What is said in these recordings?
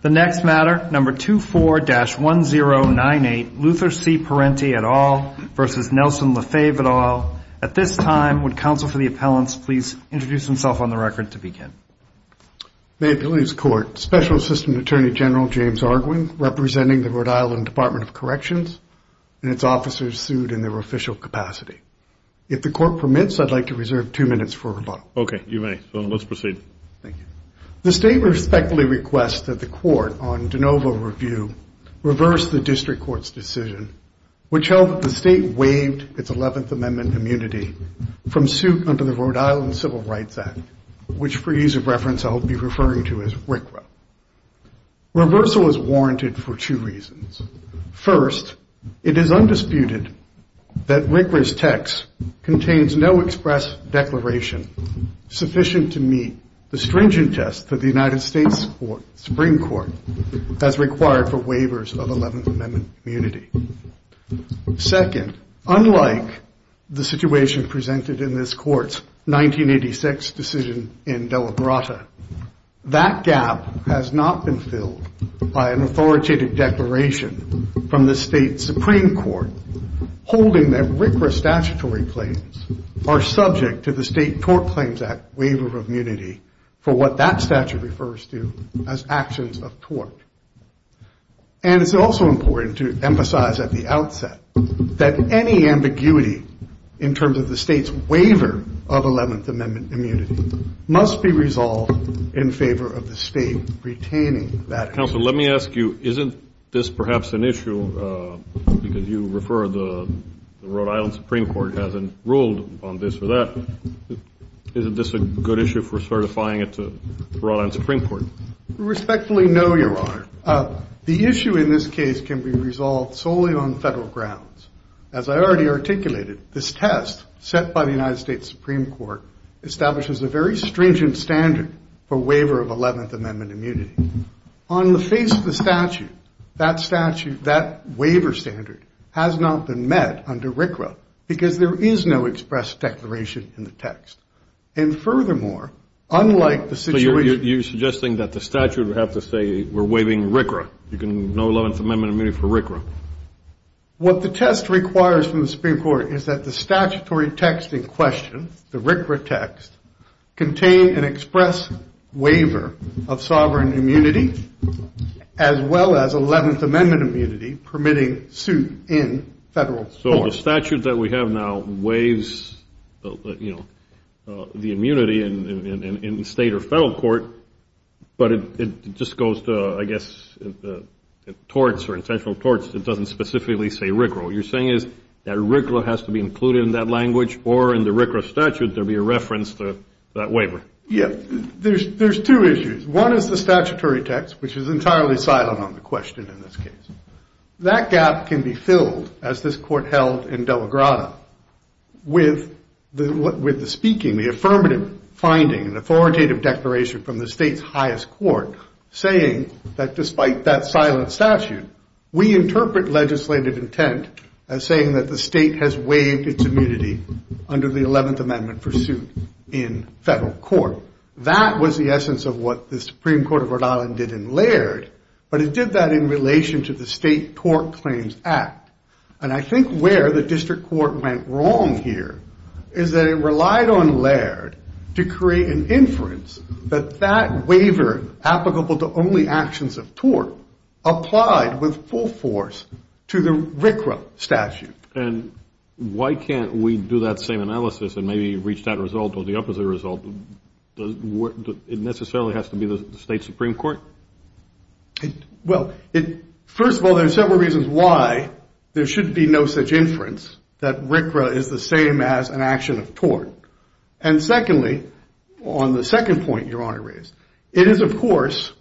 The next matter, number 24-1098, Luther C. Parenti et al. versus Nelson Lefebvre et al. At this time, would counsel for the appellants please introduce themselves on the record to begin. May it please the court, Special Assistant Attorney General James Arguin, representing the Rhode Island Department of Corrections, and its officers sued in their official capacity. If the court permits, I'd like to reserve two minutes for rebuttal. Okay, you may. Let's proceed. Thank you. The state respectfully requests that the court, on de novo review, reverse the district court's decision, which held that the state waived its 11th Amendment immunity from suit under the Rhode Island Civil Rights Act, which, for ease of reference, I will be referring to as RCRA. Reversal is warranted for two reasons. First, it is undisputed that Wigler's text contains no express declaration sufficient to meet the stringent test that the United States Supreme Court has required for waivers of 11th Amendment immunity. Second, unlike the situation presented in this court's 1986 decision in Dela Brota, that gap has not been filled by an authoritative declaration from the state Supreme Court holding that RCRA statutory claims are subject to the State Tort Claims Act waiver of immunity for what that statute refers to as actions of tort. And it's also important to emphasize at the outset that any ambiguity in terms of the state's waiver of 11th Amendment immunity must be resolved in favor of the state retaining that immunity. Counselor, let me ask you, isn't this perhaps an issue, because you refer the Rhode Island Supreme Court hasn't ruled on this or that, isn't this a good issue for certifying it to the Rhode Island Supreme Court? We respectfully know, Your Honor, the issue in this case can be resolved solely on federal grounds. As I already articulated, this test set by the United States Supreme Court establishes a very stringent standard for waiver of 11th Amendment immunity. On the face of the statute, that waiver standard has not been met under RCRA, because there is no express declaration in the text. And furthermore, unlike the situation- So you're suggesting that the statute would have to say we're waiving RCRA, you can know 11th Amendment immunity for RCRA. What the test requires from the Supreme Court is that the statutory text in question, the RCRA text, contain an express waiver of sovereign immunity, as well as 11th Amendment immunity permitting suit in federal court. So the statute that we have now waives the immunity in state or federal court, but it just goes to, I guess, torts or intentional torts. It doesn't specifically say RCRA. What you're saying is that RCRA has to be included in that language, or in the RCRA statute there would be a reference to that waiver. Yeah. There's two issues. One is the statutory text, which is entirely silent on the question in this case. That gap can be filled, as this court held in Del La Grada, with the speaking, the affirmative finding, and authoritative declaration from the state's highest court saying that despite that silent statute, we interpret legislative intent as saying that the state has waived its immunity under the 11th Amendment pursuit in federal court. That was the essence of what the Supreme Court of Rhode Island did in Laird, but it did that in relation to the State Tort Claims Act. And I think where the district court went wrong here is that it relied on Laird to create an inference that that waiver applicable to only actions of tort applied with full force to the RCRA statute. And why can't we do that same analysis and maybe reach that result or the opposite result? It necessarily has to be the state Supreme Court? Well, first of all, there are several reasons why there should be no such inference that RCRA is the same as an action of tort. And secondly, on the second point Your Honor raised, it is of course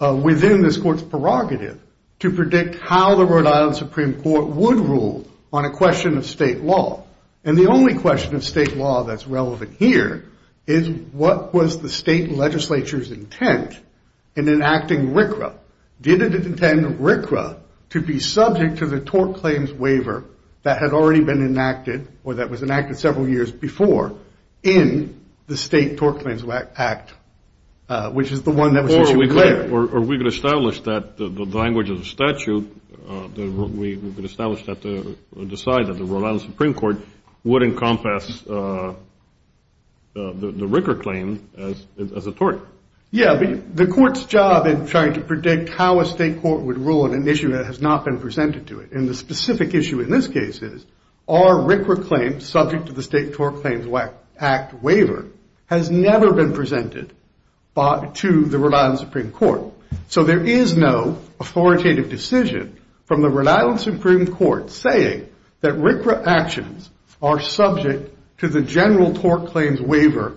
within this court's prerogative to predict how the Rhode Island Supreme Court would rule on a question of state law. And the only question of state law that's relevant here is what was the state legislature's intent in enacting RCRA? Did it intend RCRA to be subject to the tort claims waiver that had already been enacted or that was enacted several years before in the State Tort Claims Act, which is the one that was issued later? Or we could establish that the language of the statute, we could establish that the decide that the Rhode Island Supreme Court would encompass the RCRA claim as a tort. Yeah, but the court's job in trying to predict how a state court would rule on an issue that has not been presented to it. And the specific issue in this case is are RCRA claims subject to the State Tort Claims Act waiver has never been presented to the Rhode Island Supreme Court? So there is no authoritative decision from the Rhode Island Supreme Court saying that RCRA actions are subject to the general tort claims waiver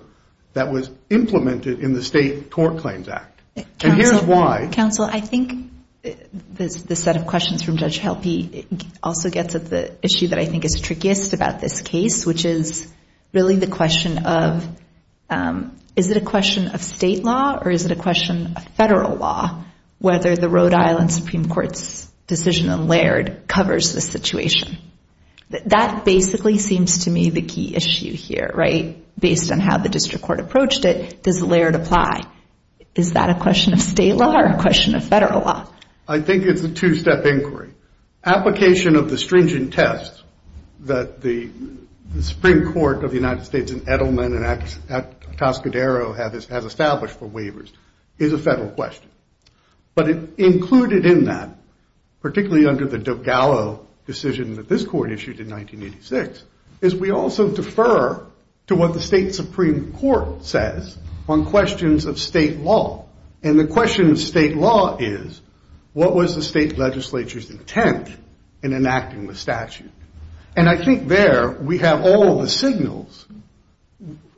that was implemented in the State Tort Claims Act. And here's why. Counsel, I think the set of questions from Judge Helpe also gets at the issue that I think is trickiest about this case, which is really the question of is it a question of state law or is it a question of federal law whether the Rhode Island Supreme Court's decision on Laird covers the situation? That basically seems to me the key issue here, right? Based on how the district court approached it, does Laird apply? Is that a question of state law or a question of federal law? I think it's a two-step inquiry. Application of the stringent test that the Supreme Court of the United States in Edelman and at Toscadero has established for waivers is a federal question. But included in that, particularly under the Dogallo decision that this court issued in 1986, is we also defer to what the state Supreme Court says on questions of state law. And the question of state law is what was the state legislature's intent in enacting the statute? And I think there we have all the signals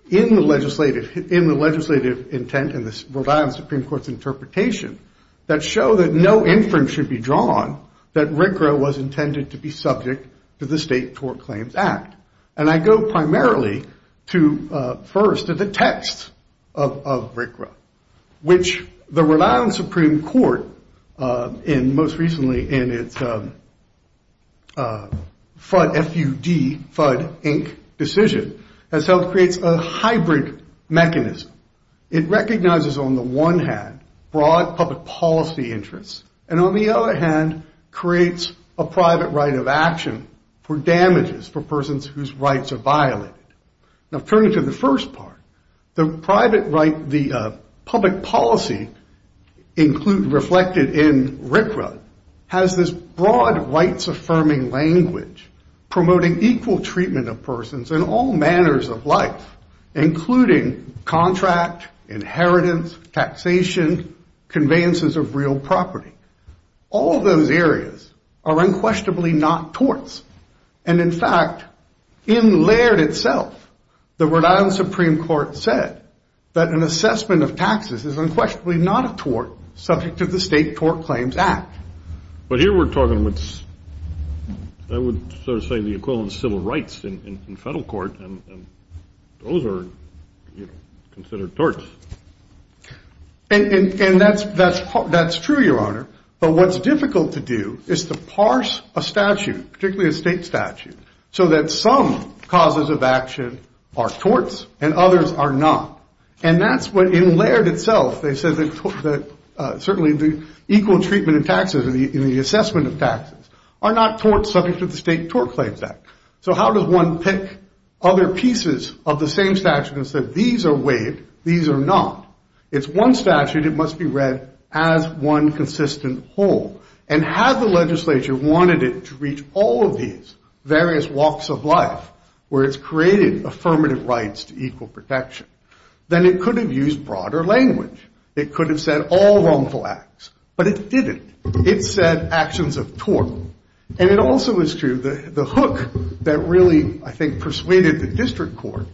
in the legislative intent and the Rhode Island Supreme Court's interpretation that show that no inference should be drawn that RCRA was intended to be subject to the State Tort Claims Act. And I go primarily first to the text of RCRA, which the Rhode Island Supreme Court most recently in its FUD, F-U-D, FUD, Inc. decision, has helped create a hybrid mechanism. It recognizes on the one hand broad public policy interests and on the other hand creates a private right of action for damages for persons whose rights are violated. Now turning to the first part, the public policy reflected in RCRA has this broad rights-affirming language promoting equal treatment of persons in all manners of life, including contract, inheritance, taxation, conveyances of real property. All of those areas are unquestionably not torts. And in fact, in Laird itself, the Rhode Island Supreme Court said that an assessment of taxes is unquestionably not a tort subject to the State Tort Claims Act. But here we're talking, I would sort of say, the equivalent of civil rights in federal court. And those are considered torts. And that's true, Your Honor. But what's difficult to do is to parse a statute, particularly a state statute, so that some causes of action are torts and others are not. And that's what, in Laird itself, they said that certainly the equal treatment of taxes and the assessment of taxes are not torts subject to the State Tort Claims Act. So how does one pick other pieces of the same statute and say these are waived, these are not? It's one statute. It must be read as one consistent whole. And had the legislature wanted it to reach all of these various walks of life where it's created affirmative rights to equal protection, then it could have used broader language. It could have said all wrongful acts. But it didn't. It said actions of tort. And it also is true that the hook that really, I think, persuaded the district court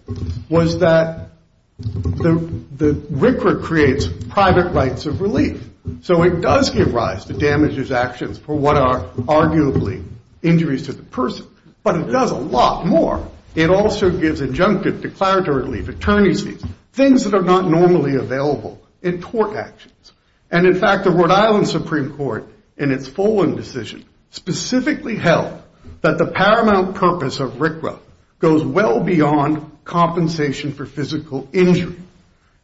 was that the RCRA creates private rights of relief. So it does give rise to damages actions for what are arguably injuries to the person. But it does a lot more. It also gives injunctive declaratory relief, attorney's fees, things that are not normally available in tort actions. And in fact, the Rhode Island Supreme Court, in its Follin decision, specifically held that the paramount purpose of RCRA goes well beyond compensation for physical injury.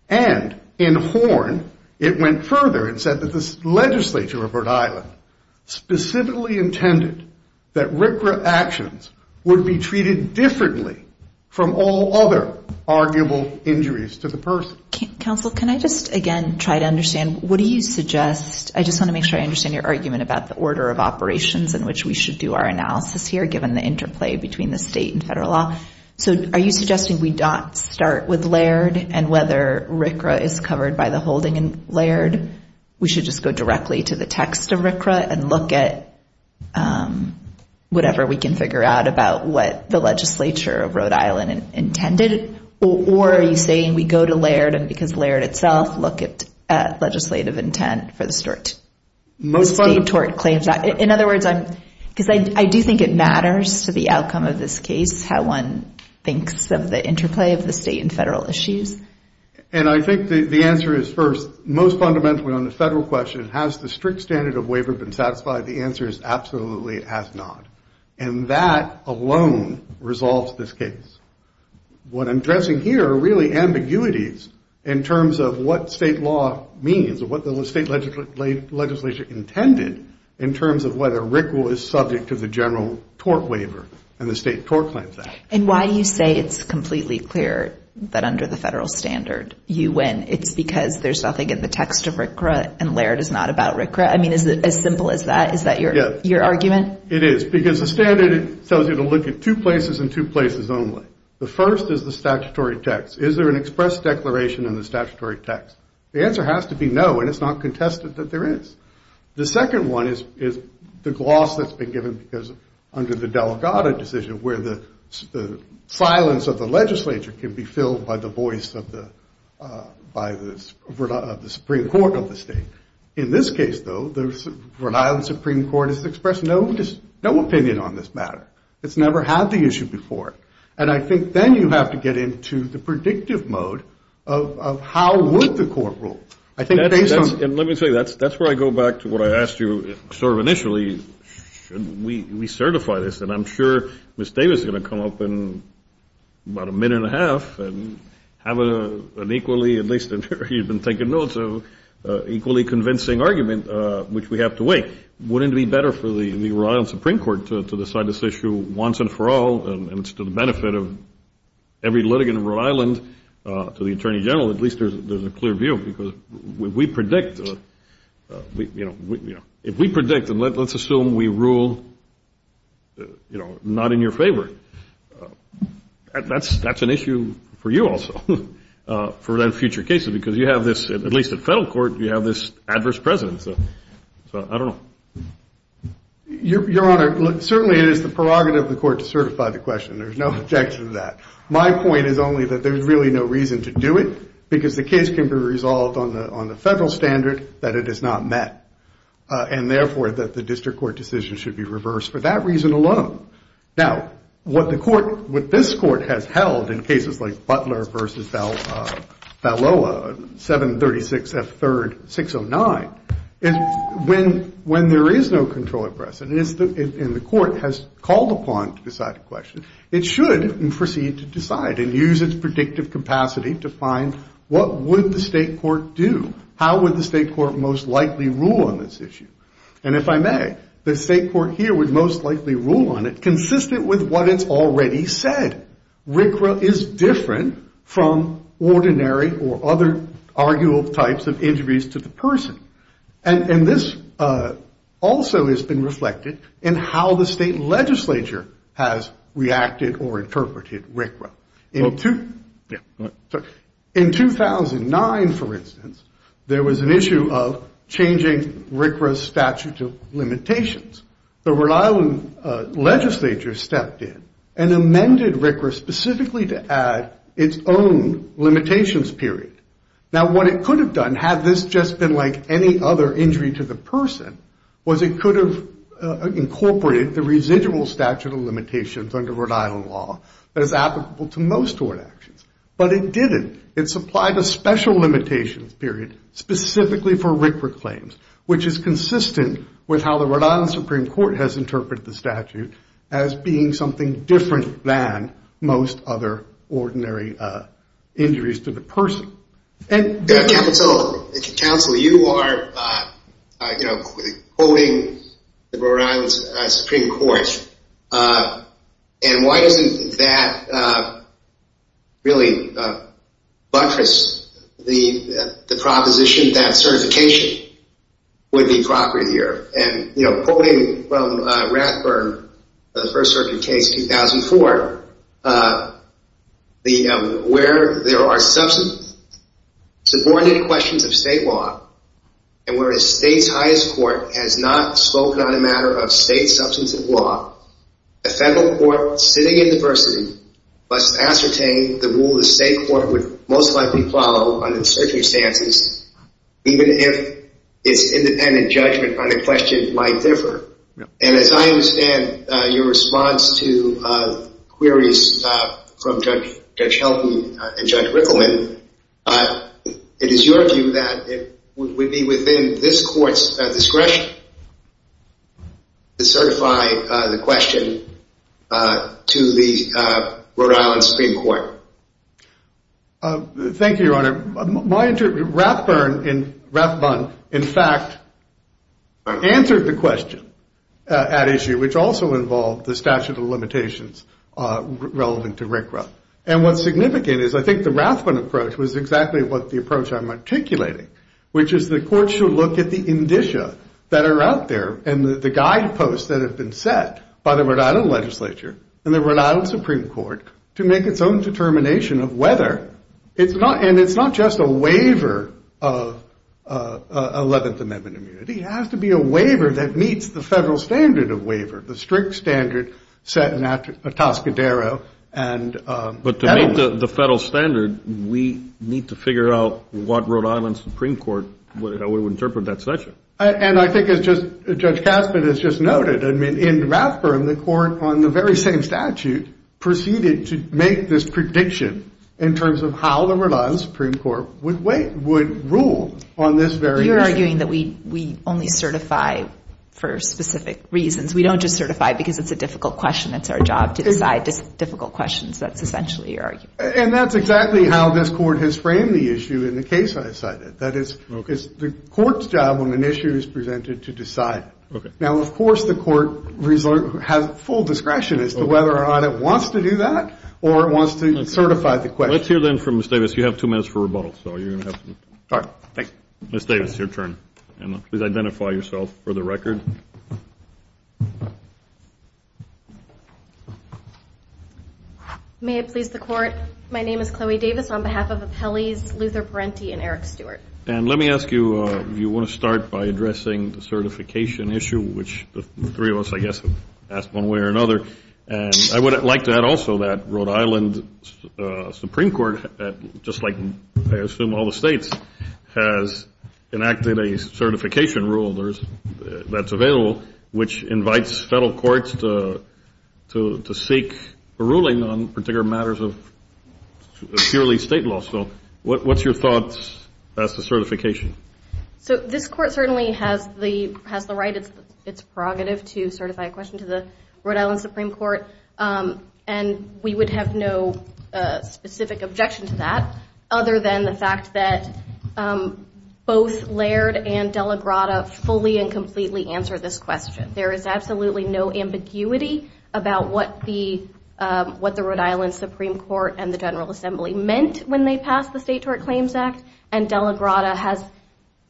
And in Horn, it went further and said that the legislature of Rhode Island specifically intended that RCRA actions would be treated differently from all other arguable injuries to the person. Counsel, can I just, again, try to understand, what do you suggest? I just want to make sure I understand your argument about the order of operations in which we should do our analysis here, given the interplay between the state and federal law. So are you suggesting we don't start with Laird and whether RCRA is covered by the holding in Laird? We should just go directly to the text of RCRA and look at whatever we can figure out about what the legislature of Rhode Island intended? Or are you saying we go to Laird and because of Laird itself, look at legislative intent for the state tort claims? In other words, because I do think it matters to the outcome of this case, how one thinks of the interplay of the state and federal issues. And I think the answer is first, most fundamentally on the federal question, has the strict standard of waiver been satisfied? The answer is absolutely it has not. And that alone resolves this case. What I'm addressing here are really ambiguities in terms of what state law means or what the state legislature intended in terms of whether RCRA is subject to the general tort waiver and the state tort claims act. And why do you say it's completely clear that under the federal standard you win? It's because there's nothing in the text of RCRA and Laird is not about RCRA? I mean, is it as simple as that? Is that your argument? It is, because the standard tells you to look at two places and two places only. The first is the statutory text. Is there an express declaration in the statutory text? The answer has to be no, and it's not contested that there is. The second one is the gloss that's been given because under the Delgado decision where the silence of the legislature can be filled by the voice of the Supreme Court of the state. In this case, though, the Rhode Island Supreme Court has expressed no opinion on this matter. It's never had the issue before. And I think then you have to get into the predictive mode of how would the court rule. Let me tell you, that's where I go back to what I asked you sort of initially. Should we certify this? And I'm sure Ms. Davis is going to come up in about a minute and a half and have an equally, at least you've been taking notes, equally convincing argument, which we have to wait. Wouldn't it be better for the Rhode Island Supreme Court to decide this issue once and for all and it's to the benefit of every litigant in Rhode Island to the Attorney General, at least there's a clear view, because if we predict and let's assume we rule not in your favor, that's an issue for you also for future cases because you have this, at least at federal court, you have this adverse presence. So I don't know. Your Honor, certainly it is the prerogative of the court to certify the question. There's no objection to that. My point is only that there's really no reason to do it because the case can be resolved on the federal standard that it is not met and, therefore, that the district court decision should be reversed for that reason alone. Now, what the court, what this court has held in cases like Butler v. Valoa, 736F3-609, when there is no control of presence and the court has called upon to decide a question, it should proceed to decide and use its predictive capacity to find what would the state court do. How would the state court most likely rule on this issue? And if I may, the state court here would most likely rule on it consistent with what it's already said. RCRA is different from ordinary or other arguable types of injuries to the person. And this also has been reflected in how the state legislature has reacted or interpreted RCRA. In 2009, for instance, there was an issue of changing RCRA's statute of limitations. The Rhode Island legislature stepped in and amended RCRA specifically to add its own limitations period. Now, what it could have done, had this just been like any other injury to the person, was it could have incorporated the residual statute of limitations under Rhode Island law that is applicable to most tort actions, but it didn't. It supplied a special limitations period specifically for RCRA claims, which is consistent with how the Rhode Island Supreme Court has interpreted the statute as being something different than most other ordinary injuries to the person. Counsel, you are quoting the Rhode Island Supreme Court. And why doesn't that really buttress the proposition that certification would be property of the earth? And, you know, quoting from Ratburn, the first circuit case 2004, where there are subordinate questions of state law, and where a state's highest court has not spoken on a matter of state substantive law, a federal court sitting in diversity must ascertain the rule the state court would most likely follow under the circumstances, even if its independent judgment on a question might differ. And as I understand your response to queries from Judge Helty and Judge Rickleman, it is your view that it would be within this court's discretion to certify the question to the Rhode Island Supreme Court. Thank you, Your Honor. Ratburn, in fact, answered the question at issue, which also involved the statute of limitations relevant to RCRA. And what's significant is I think the Ratburn approach was exactly what the approach I'm articulating, which is the court should look at the indicia that are out there and the guideposts that have been set by the Rhode Island legislature and the Rhode Island Supreme Court to make its own determination of whether, and it's not just a waiver of 11th Amendment immunity, it has to be a waiver that meets the federal standard of waiver, the strict standard set in Atascadero. But to meet the federal standard, we need to figure out what Rhode Island Supreme Court would interpret that statute. And I think as Judge Caspin has just noted, in Ratburn, the court on the very same statute, proceeded to make this prediction in terms of how the Rhode Island Supreme Court would rule on this very issue. You're arguing that we only certify for specific reasons. We don't just certify because it's a difficult question. It's our job to decide difficult questions. That's essentially your argument. And that's exactly how this court has framed the issue in the case I cited. That is, it's the court's job when an issue is presented to decide. Now, of course, the court has full discretion as to whether or not it wants to do that or it wants to certify the question. Let's hear then from Ms. Davis. You have two minutes for rebuttal. Ms. Davis, your turn. Please identify yourself for the record. May it please the Court. My name is Chloe Davis on behalf of Appellees Luther Parenti and Eric Stewart. And let me ask you if you want to start by addressing the certification issue, which the three of us, I guess, have asked one way or another. And I would like to add also that Rhode Island Supreme Court, just like I assume all the states, has enacted a certification rule that's available, which invites federal courts to seek a ruling on particular matters of purely state law. So what's your thoughts as to certification? So this court certainly has the right, it's prerogative, to certify a question to the Rhode Island Supreme Court. And we would have no specific objection to that other than the fact that both Laird and De La Grada fully and completely answer this question. There is absolutely no ambiguity about what the Rhode Island Supreme Court and the General Assembly meant when they passed the State Tort Claims Act. And De La Grada has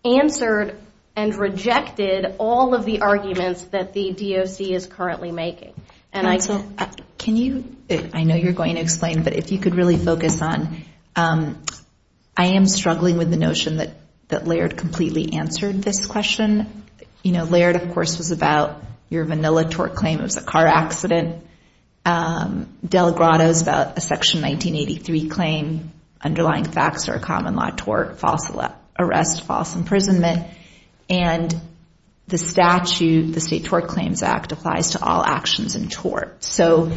answered and rejected all of the arguments that the DOC is currently making. Can you, I know you're going to explain, but if you could really focus on, I am struggling with the notion that Laird completely answered this question. You know, Laird, of course, was about your vanilla tort claim, it was a car accident. De La Grada is about a Section 1983 claim, underlying facts are a common law tort, false arrest, false imprisonment. And the statute, the State Tort Claims Act, applies to all actions in tort. So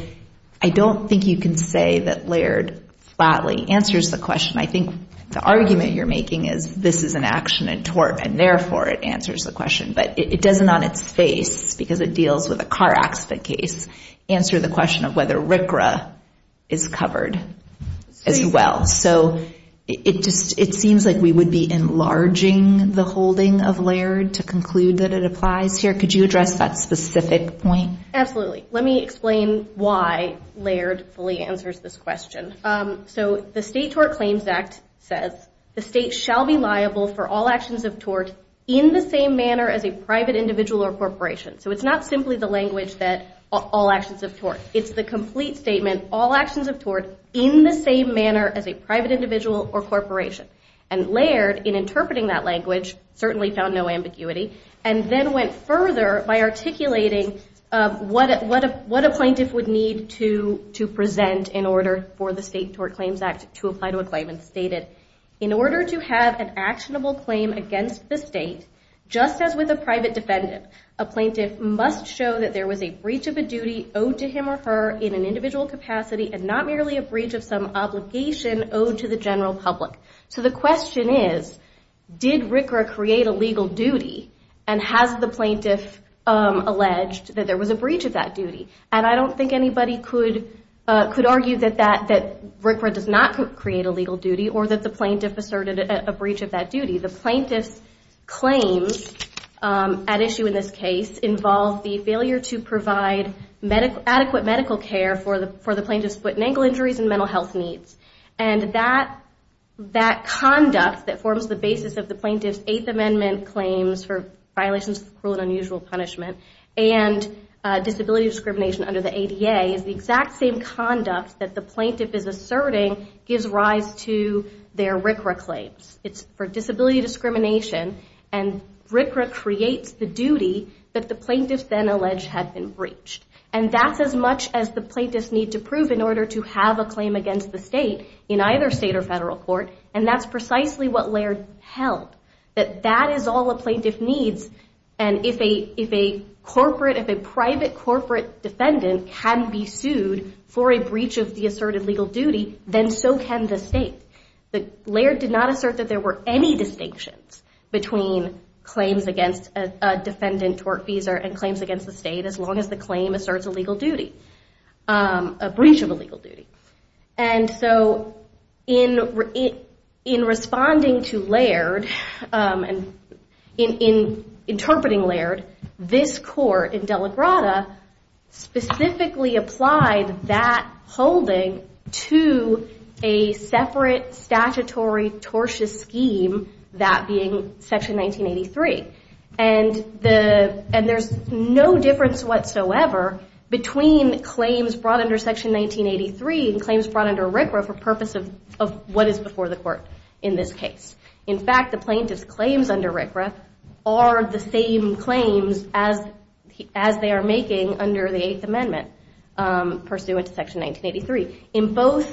I don't think you can say that Laird flatly answers the question. I think the argument you're making is this is an action in tort, and therefore it answers the question. But it doesn't on its face, because it deals with a car accident case, answer the question of whether RCRA is covered as well. So it seems like we would be enlarging the holding of Laird to conclude that it applies here. Could you address that specific point? Absolutely. Let me explain why Laird fully answers this question. So the State Tort Claims Act says, the state shall be liable for all actions of tort in the same manner as a private individual or corporation. So it's not simply the language that all actions of tort. It's the complete statement, all actions of tort in the same manner as a private individual or corporation. And Laird, in interpreting that language, certainly found no ambiguity, and then went further by articulating what a plaintiff would need to present in order for the State Tort Claims Act to apply to a claim, and stated, in order to have an actionable claim against the state, just as with a private defendant, a plaintiff must show that there was a breach of a duty owed to him or her in an individual capacity, and not merely a breach of some obligation owed to the general public. So the question is, did RCRA create a legal duty, and has the plaintiff alleged that there was a breach of that duty? And I don't think anybody could argue that RCRA does not create a legal duty, or that the plaintiff asserted a breach of that duty. The plaintiff's claims at issue in this case involve the failure to provide adequate medical care for the plaintiff's foot and ankle injuries and mental health needs. And that conduct that forms the basis of the plaintiff's Eighth Amendment claims for violations of cruel and unusual punishment, and disability discrimination under the ADA, is the exact same conduct that the plaintiff is asserting gives rise to their RCRA claims. It's for disability discrimination, and RCRA creates the duty that the plaintiff then alleged had been breached. And that's as much as the plaintiffs need to prove in order to have a claim against the state in either state or federal court, and that's precisely what Laird held. That that is all a plaintiff needs, and if a private corporate defendant can be sued for a breach of the asserted legal duty, then so can the state. Laird did not assert that there were any distinctions between claims against a defendant tortfeasor and claims against the state, as long as the claim asserts a legal duty, a breach of a legal duty. And so in responding to Laird, in interpreting Laird, this court in Dela Grada specifically applied that holding to a separate statutory tortious scheme, that being Section 1983. And there's no difference whatsoever between claims brought under Section 1983 and claims brought under RCRA for purpose of what is before the court in this case. In fact, the plaintiff's claims under RCRA are the same claims as they are making under the Eighth Amendment pursuant to Section 1983. In both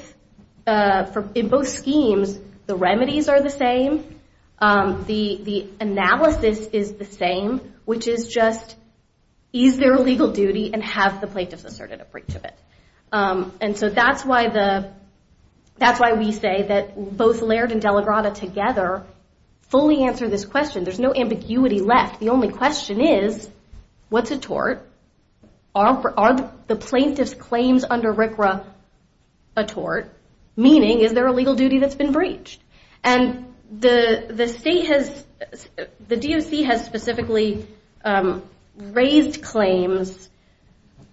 schemes, the remedies are the same, the analysis is the same, which is just ease their legal duty and have the plaintiff's asserted a breach of it. And so that's why we say that both Laird and Dela Grada together fully answer this question. There's no ambiguity left. The only question is, what's a tort? Are the plaintiff's claims under RCRA a tort? Meaning, is there a legal duty that's been breached? And the DOC has specifically raised claims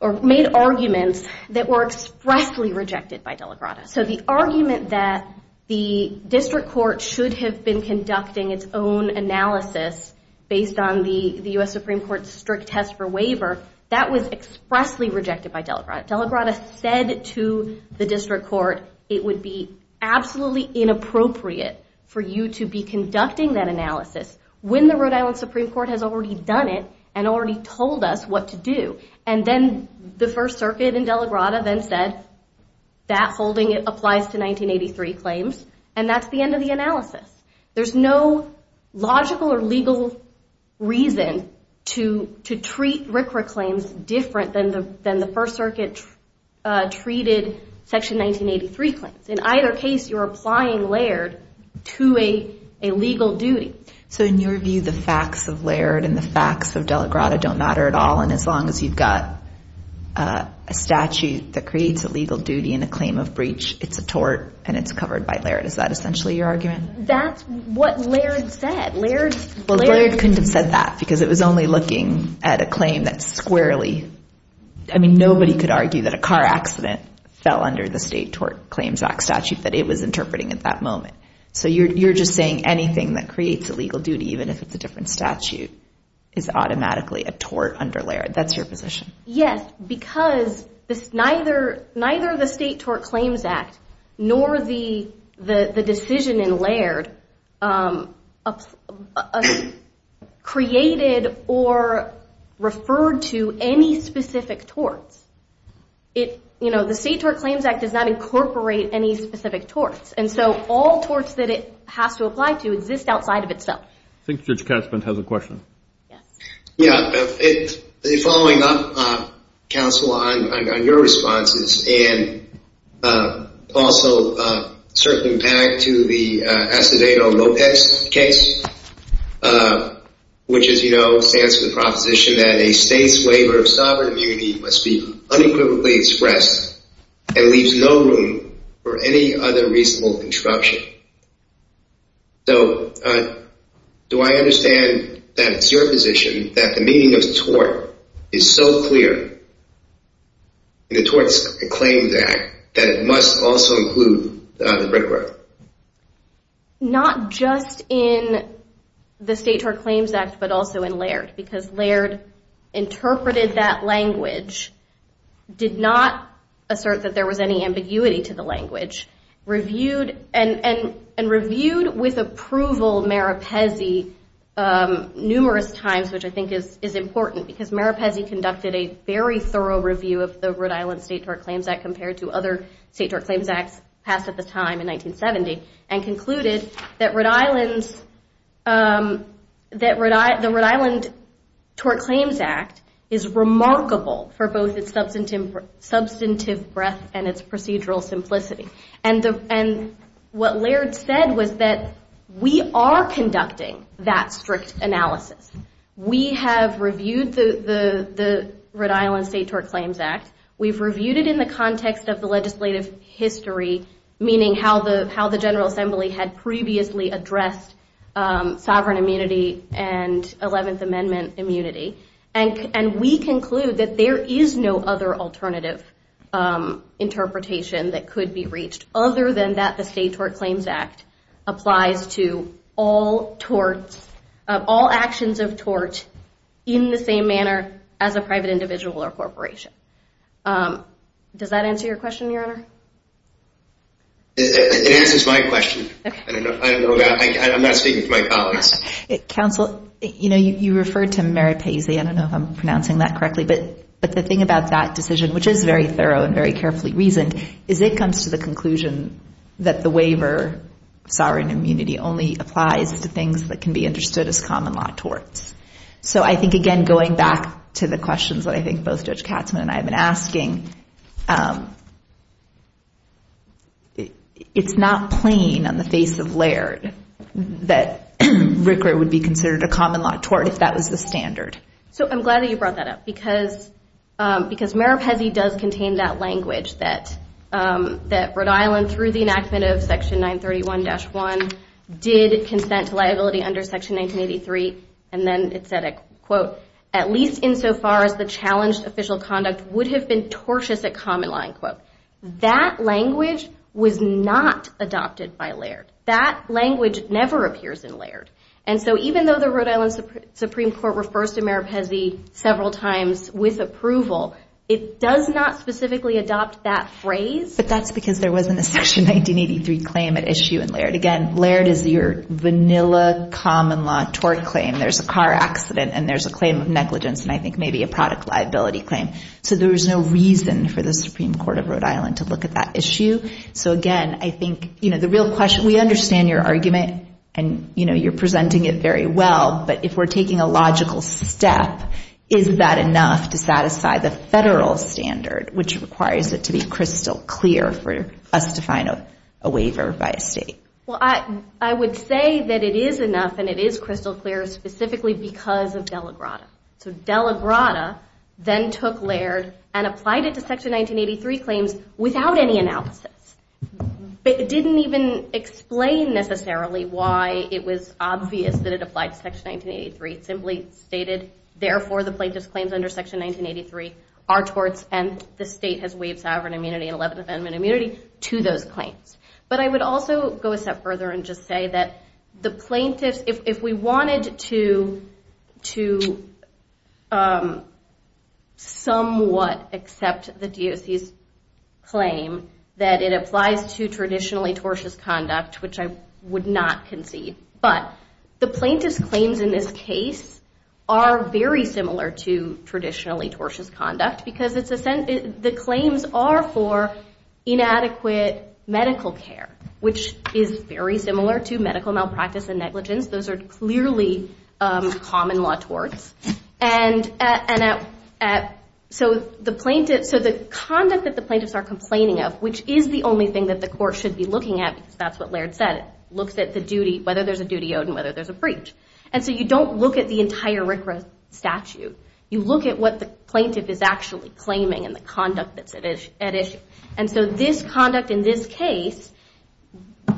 or made arguments that were expressly rejected by Dela Grada. So the argument that the district court should have been conducting its own analysis based on the U.S. Supreme Court's strict test for waiver, that was expressly rejected by Dela Grada. Dela Grada said to the district court, it would be absolutely inappropriate for you to be conducting that analysis when the Rhode Island Supreme Court has already done it and already told us what to do. And then the First Circuit in Dela Grada then said, that holding applies to 1983 claims, and that's the end of the analysis. There's no logical or legal reason to treat RCRA claims different than the First Circuit treated Section 1983 claims. In either case, you're applying Laird to a legal duty. So in your view, the facts of Laird and the facts of Dela Grada don't matter at all, and as long as you've got a statute that creates a legal duty and a claim of breach, it's a tort and it's covered by Laird. Is that essentially your argument? That's what Laird said. Well, Laird couldn't have said that because it was only looking at a claim that's squarely, I mean, nobody could argue that a car accident fell under the State Tort Claims Act statute that it was interpreting at that moment. So you're just saying anything that creates a legal duty, even if it's a different statute, is automatically a tort under Laird. That's your position. Yes, because neither the State Tort Claims Act nor the decision in Laird created or referred to any specific torts. You know, the State Tort Claims Act does not incorporate any specific torts, and so all torts that it has to apply to exist outside of itself. I think Judge Caspin has a question. Yeah, following up, Counsel, on your responses and also circling back to the Acevedo-Lopez case, which, as you know, stands for the proposition that a State's waiver of sovereign immunity must be unequivocally expressed and leaves no room for any other reasonable interruption. So do I understand that it's your position that the meaning of tort is so clear in the Tort Claims Act that it must also include the brick road? Not just in the State Tort Claims Act, but also in Laird, because Laird interpreted that language, did not assert that there was any ambiguity to the language, and reviewed with approval Meripesi numerous times, which I think is important because Meripesi conducted a very thorough review of the Rhode Island State Tort Claims Act compared to other State Tort Claims Acts passed at the time in 1970 and concluded that the Rhode Island Tort Claims Act is remarkable for both its substantive breadth and its procedural simplicity. And what Laird said was that we are conducting that strict analysis. We have reviewed the Rhode Island State Tort Claims Act. We've reviewed it in the context of the legislative history, meaning how the General Assembly had previously addressed sovereign immunity and 11th Amendment immunity, and we conclude that there is no other alternative interpretation that could be reached other than that the State Tort Claims Act applies to all actions of tort in the same manner as a private individual or corporation. Does that answer your question, Your Honor? It answers my question. I'm not speaking to my colleagues. Counsel, you know, you referred to Meripesi. I don't know if I'm pronouncing that correctly, but the thing about that decision, which is very thorough and very carefully reasoned, is it comes to the conclusion that the waiver of sovereign immunity only applies to things that can be understood as common law torts. So I think, again, going back to the questions that I think both Judge Katzmann and I have been asking, it's not plain on the face of Laird that RCRA would be considered a common law tort if that was the standard. So I'm glad that you brought that up because Meripesi does contain that language that Rhode Island, through the enactment of Section 931-1, did consent to liability under Section 1983, and then it said, quote, at least insofar as the challenged official conduct would have been tortious at common law, end quote. That language was not adopted by Laird. That language never appears in Laird. And so even though the Rhode Island Supreme Court refers to Meripesi several times with approval, it does not specifically adopt that phrase. But that's because there wasn't a Section 1983 claim at issue in Laird. Again, Laird is your vanilla common law tort claim. There's a car accident and there's a claim of negligence and I think maybe a product liability claim. So there was no reason for the Supreme Court of Rhode Island to look at that issue. So again, I think the real question, we understand your argument and you're presenting it very well, but if we're taking a logical step, is that enough to satisfy the federal standard, which requires it to be crystal clear for us to find a waiver by a state? Well, I would say that it is enough and it is crystal clear specifically because of Dela Grada. So Dela Grada then took Laird and applied it to Section 1983 claims without any analysis. It didn't even explain necessarily why it was obvious that it applied to Section 1983. It simply stated, therefore the plaintiff's claims under Section 1983 are torts and the state has waived sovereign immunity and 11th Amendment immunity to those claims. But I would also go a step further and just say that the plaintiffs, if we wanted to somewhat accept the DOC's claim that it applies to traditionally tortious conduct, which I would not concede, but the plaintiffs' claims in this case are very similar to traditionally tortious conduct because the claims are for inadequate medical care, which is very similar to medical malpractice and negligence. Those are clearly common law torts. So the conduct that the plaintiffs are complaining of, which is the only thing that the court should be looking at, because that's what Laird said, looks at whether there's a duty owed and whether there's a breach. And so you don't look at the entire RCRA statute. You look at what the plaintiff is actually claiming and the conduct that's at issue. And so this conduct in this case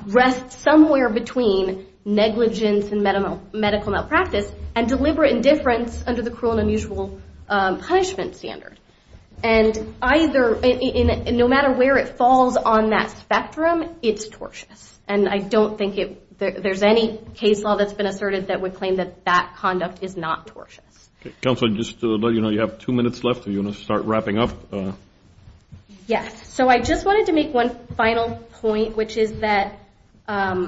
rests somewhere between negligence and medical malpractice and deliberate indifference under the cruel and unusual punishment standard. And no matter where it falls on that spectrum, it's tortious. And I don't think there's any case law that's been asserted that would claim that that conduct is not tortious. Counsel, just to let you know, you have two minutes left. Are you going to start wrapping up? Yes. So I just wanted to make one final point, which is that the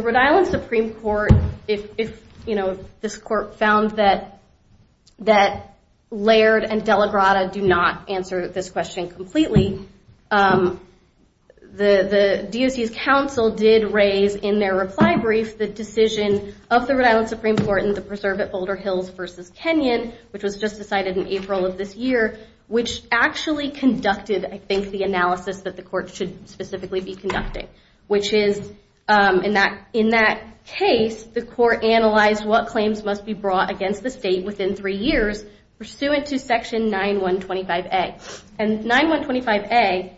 Rhode Island Supreme Court, if this court found that Laird and Della Grotta do not answer this question completely, the DOC's counsel did raise in their reply brief the decision of the Rhode Island Supreme Court in the preserve at Boulder Hills versus Kenyon, which was just decided in April of this year, which actually conducted, I think, the analysis that the court should specifically be conducting, which is in that case, the court analyzed what claims must be brought against the state within three years pursuant to section 9125A. And 9125A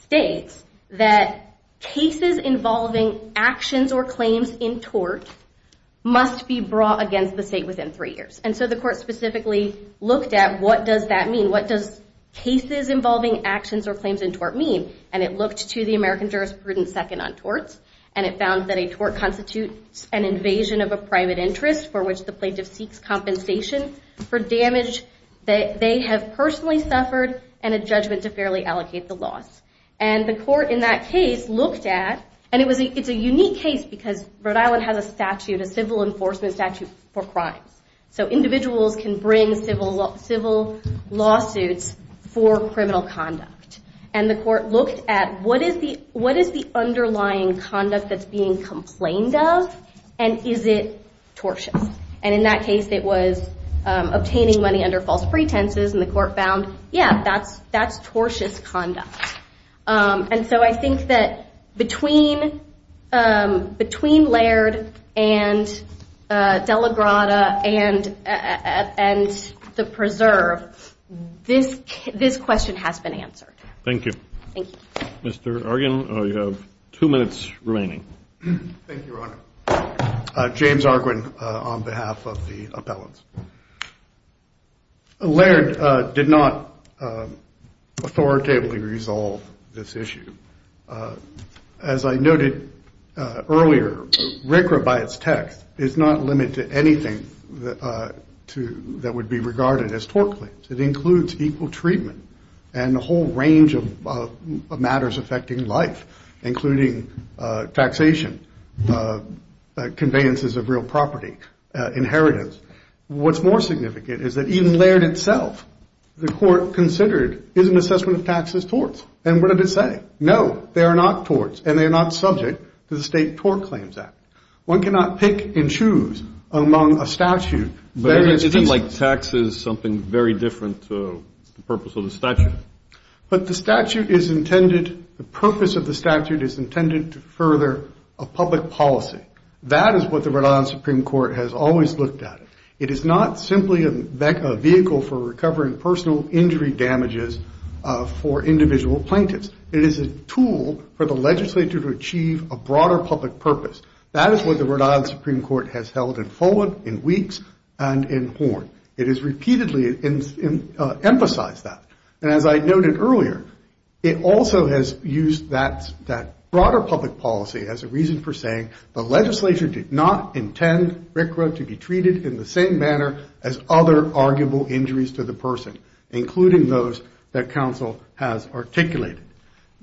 states that cases involving actions or claims in tort must be brought against the state within three years. And so the court specifically looked at, what does that mean? What does cases involving actions or claims in tort mean? And it looked to the American jurisprudence second on torts, and it found that a tort constitutes an invasion of a private interest for which the plaintiff seeks compensation for damage that they have personally suffered and a judgment to fairly allocate the loss. And the court in that case looked at, and it's a unique case because Rhode Island has a civil enforcement statute for crimes. So individuals can bring civil lawsuits for criminal conduct. And the court looked at, what is the underlying conduct that's being complained of, and is it tortious? And in that case, it was obtaining money under false pretenses, and the court found, yeah, that's tortious conduct. And so I think that between Laird and De La Grada and the preserve, this question has been answered. Thank you. Thank you. Mr. Arguin, you have two minutes remaining. Thank you, Your Honor. James Arguin on behalf of the appellants. Laird did not authoritatively resolve this issue. As I noted earlier, RCRA by its text is not limited to anything that would be regarded as tort claims. It includes equal treatment and a whole range of matters affecting life, including taxation, conveyances of real property, inheritance. What's more significant is that even Laird itself, the court considered, is an assessment of taxes torts. And what did it say? No, they are not torts, and they are not subject to the State Tort Claims Act. One cannot pick and choose among a statute. But isn't taxes something very different to the purpose of the statute? But the purpose of the statute is intended to further a public policy. That is what the Rhode Island Supreme Court has always looked at. It is not simply a vehicle for recovering personal injury damages for individual plaintiffs. It is a tool for the legislature to achieve a broader public purpose. That is what the Rhode Island Supreme Court has held in Fulwood, in Weeks, and in Horn. It has repeatedly emphasized that. And as I noted earlier, it also has used that broader public policy as a reason for saying the legislature did not intend RCRA to be treated in the same manner as other arguable injuries to the person, including those that counsel has articulated.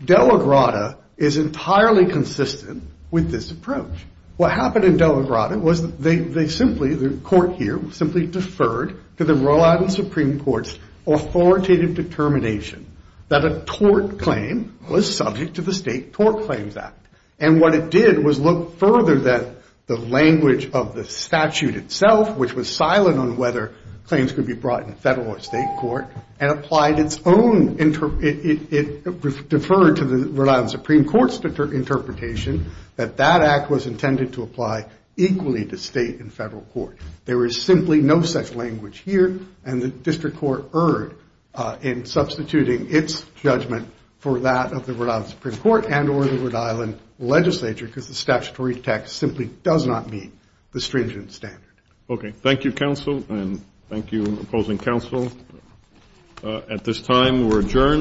De La Grada is entirely consistent with this approach. What happened in De La Grada was they simply, the court here, simply deferred to the Rhode Island Supreme Court's authoritative determination that a tort claim was subject to the State Tort Claims Act. And what it did was look further than the language of the statute itself, which was silent on whether claims could be brought in federal or state court, and applied its own, it deferred to the Rhode Island Supreme Court's interpretation that that act was intended to apply equally to state and federal court. There is simply no such language here. And the district court erred in substituting its judgment for that of the Rhode Island Supreme Court and or the Rhode Island legislature because the statutory text simply does not meet the stringent standard. OK. Thank you, counsel. And thank you, opposing counsel. At this time, we're adjourned.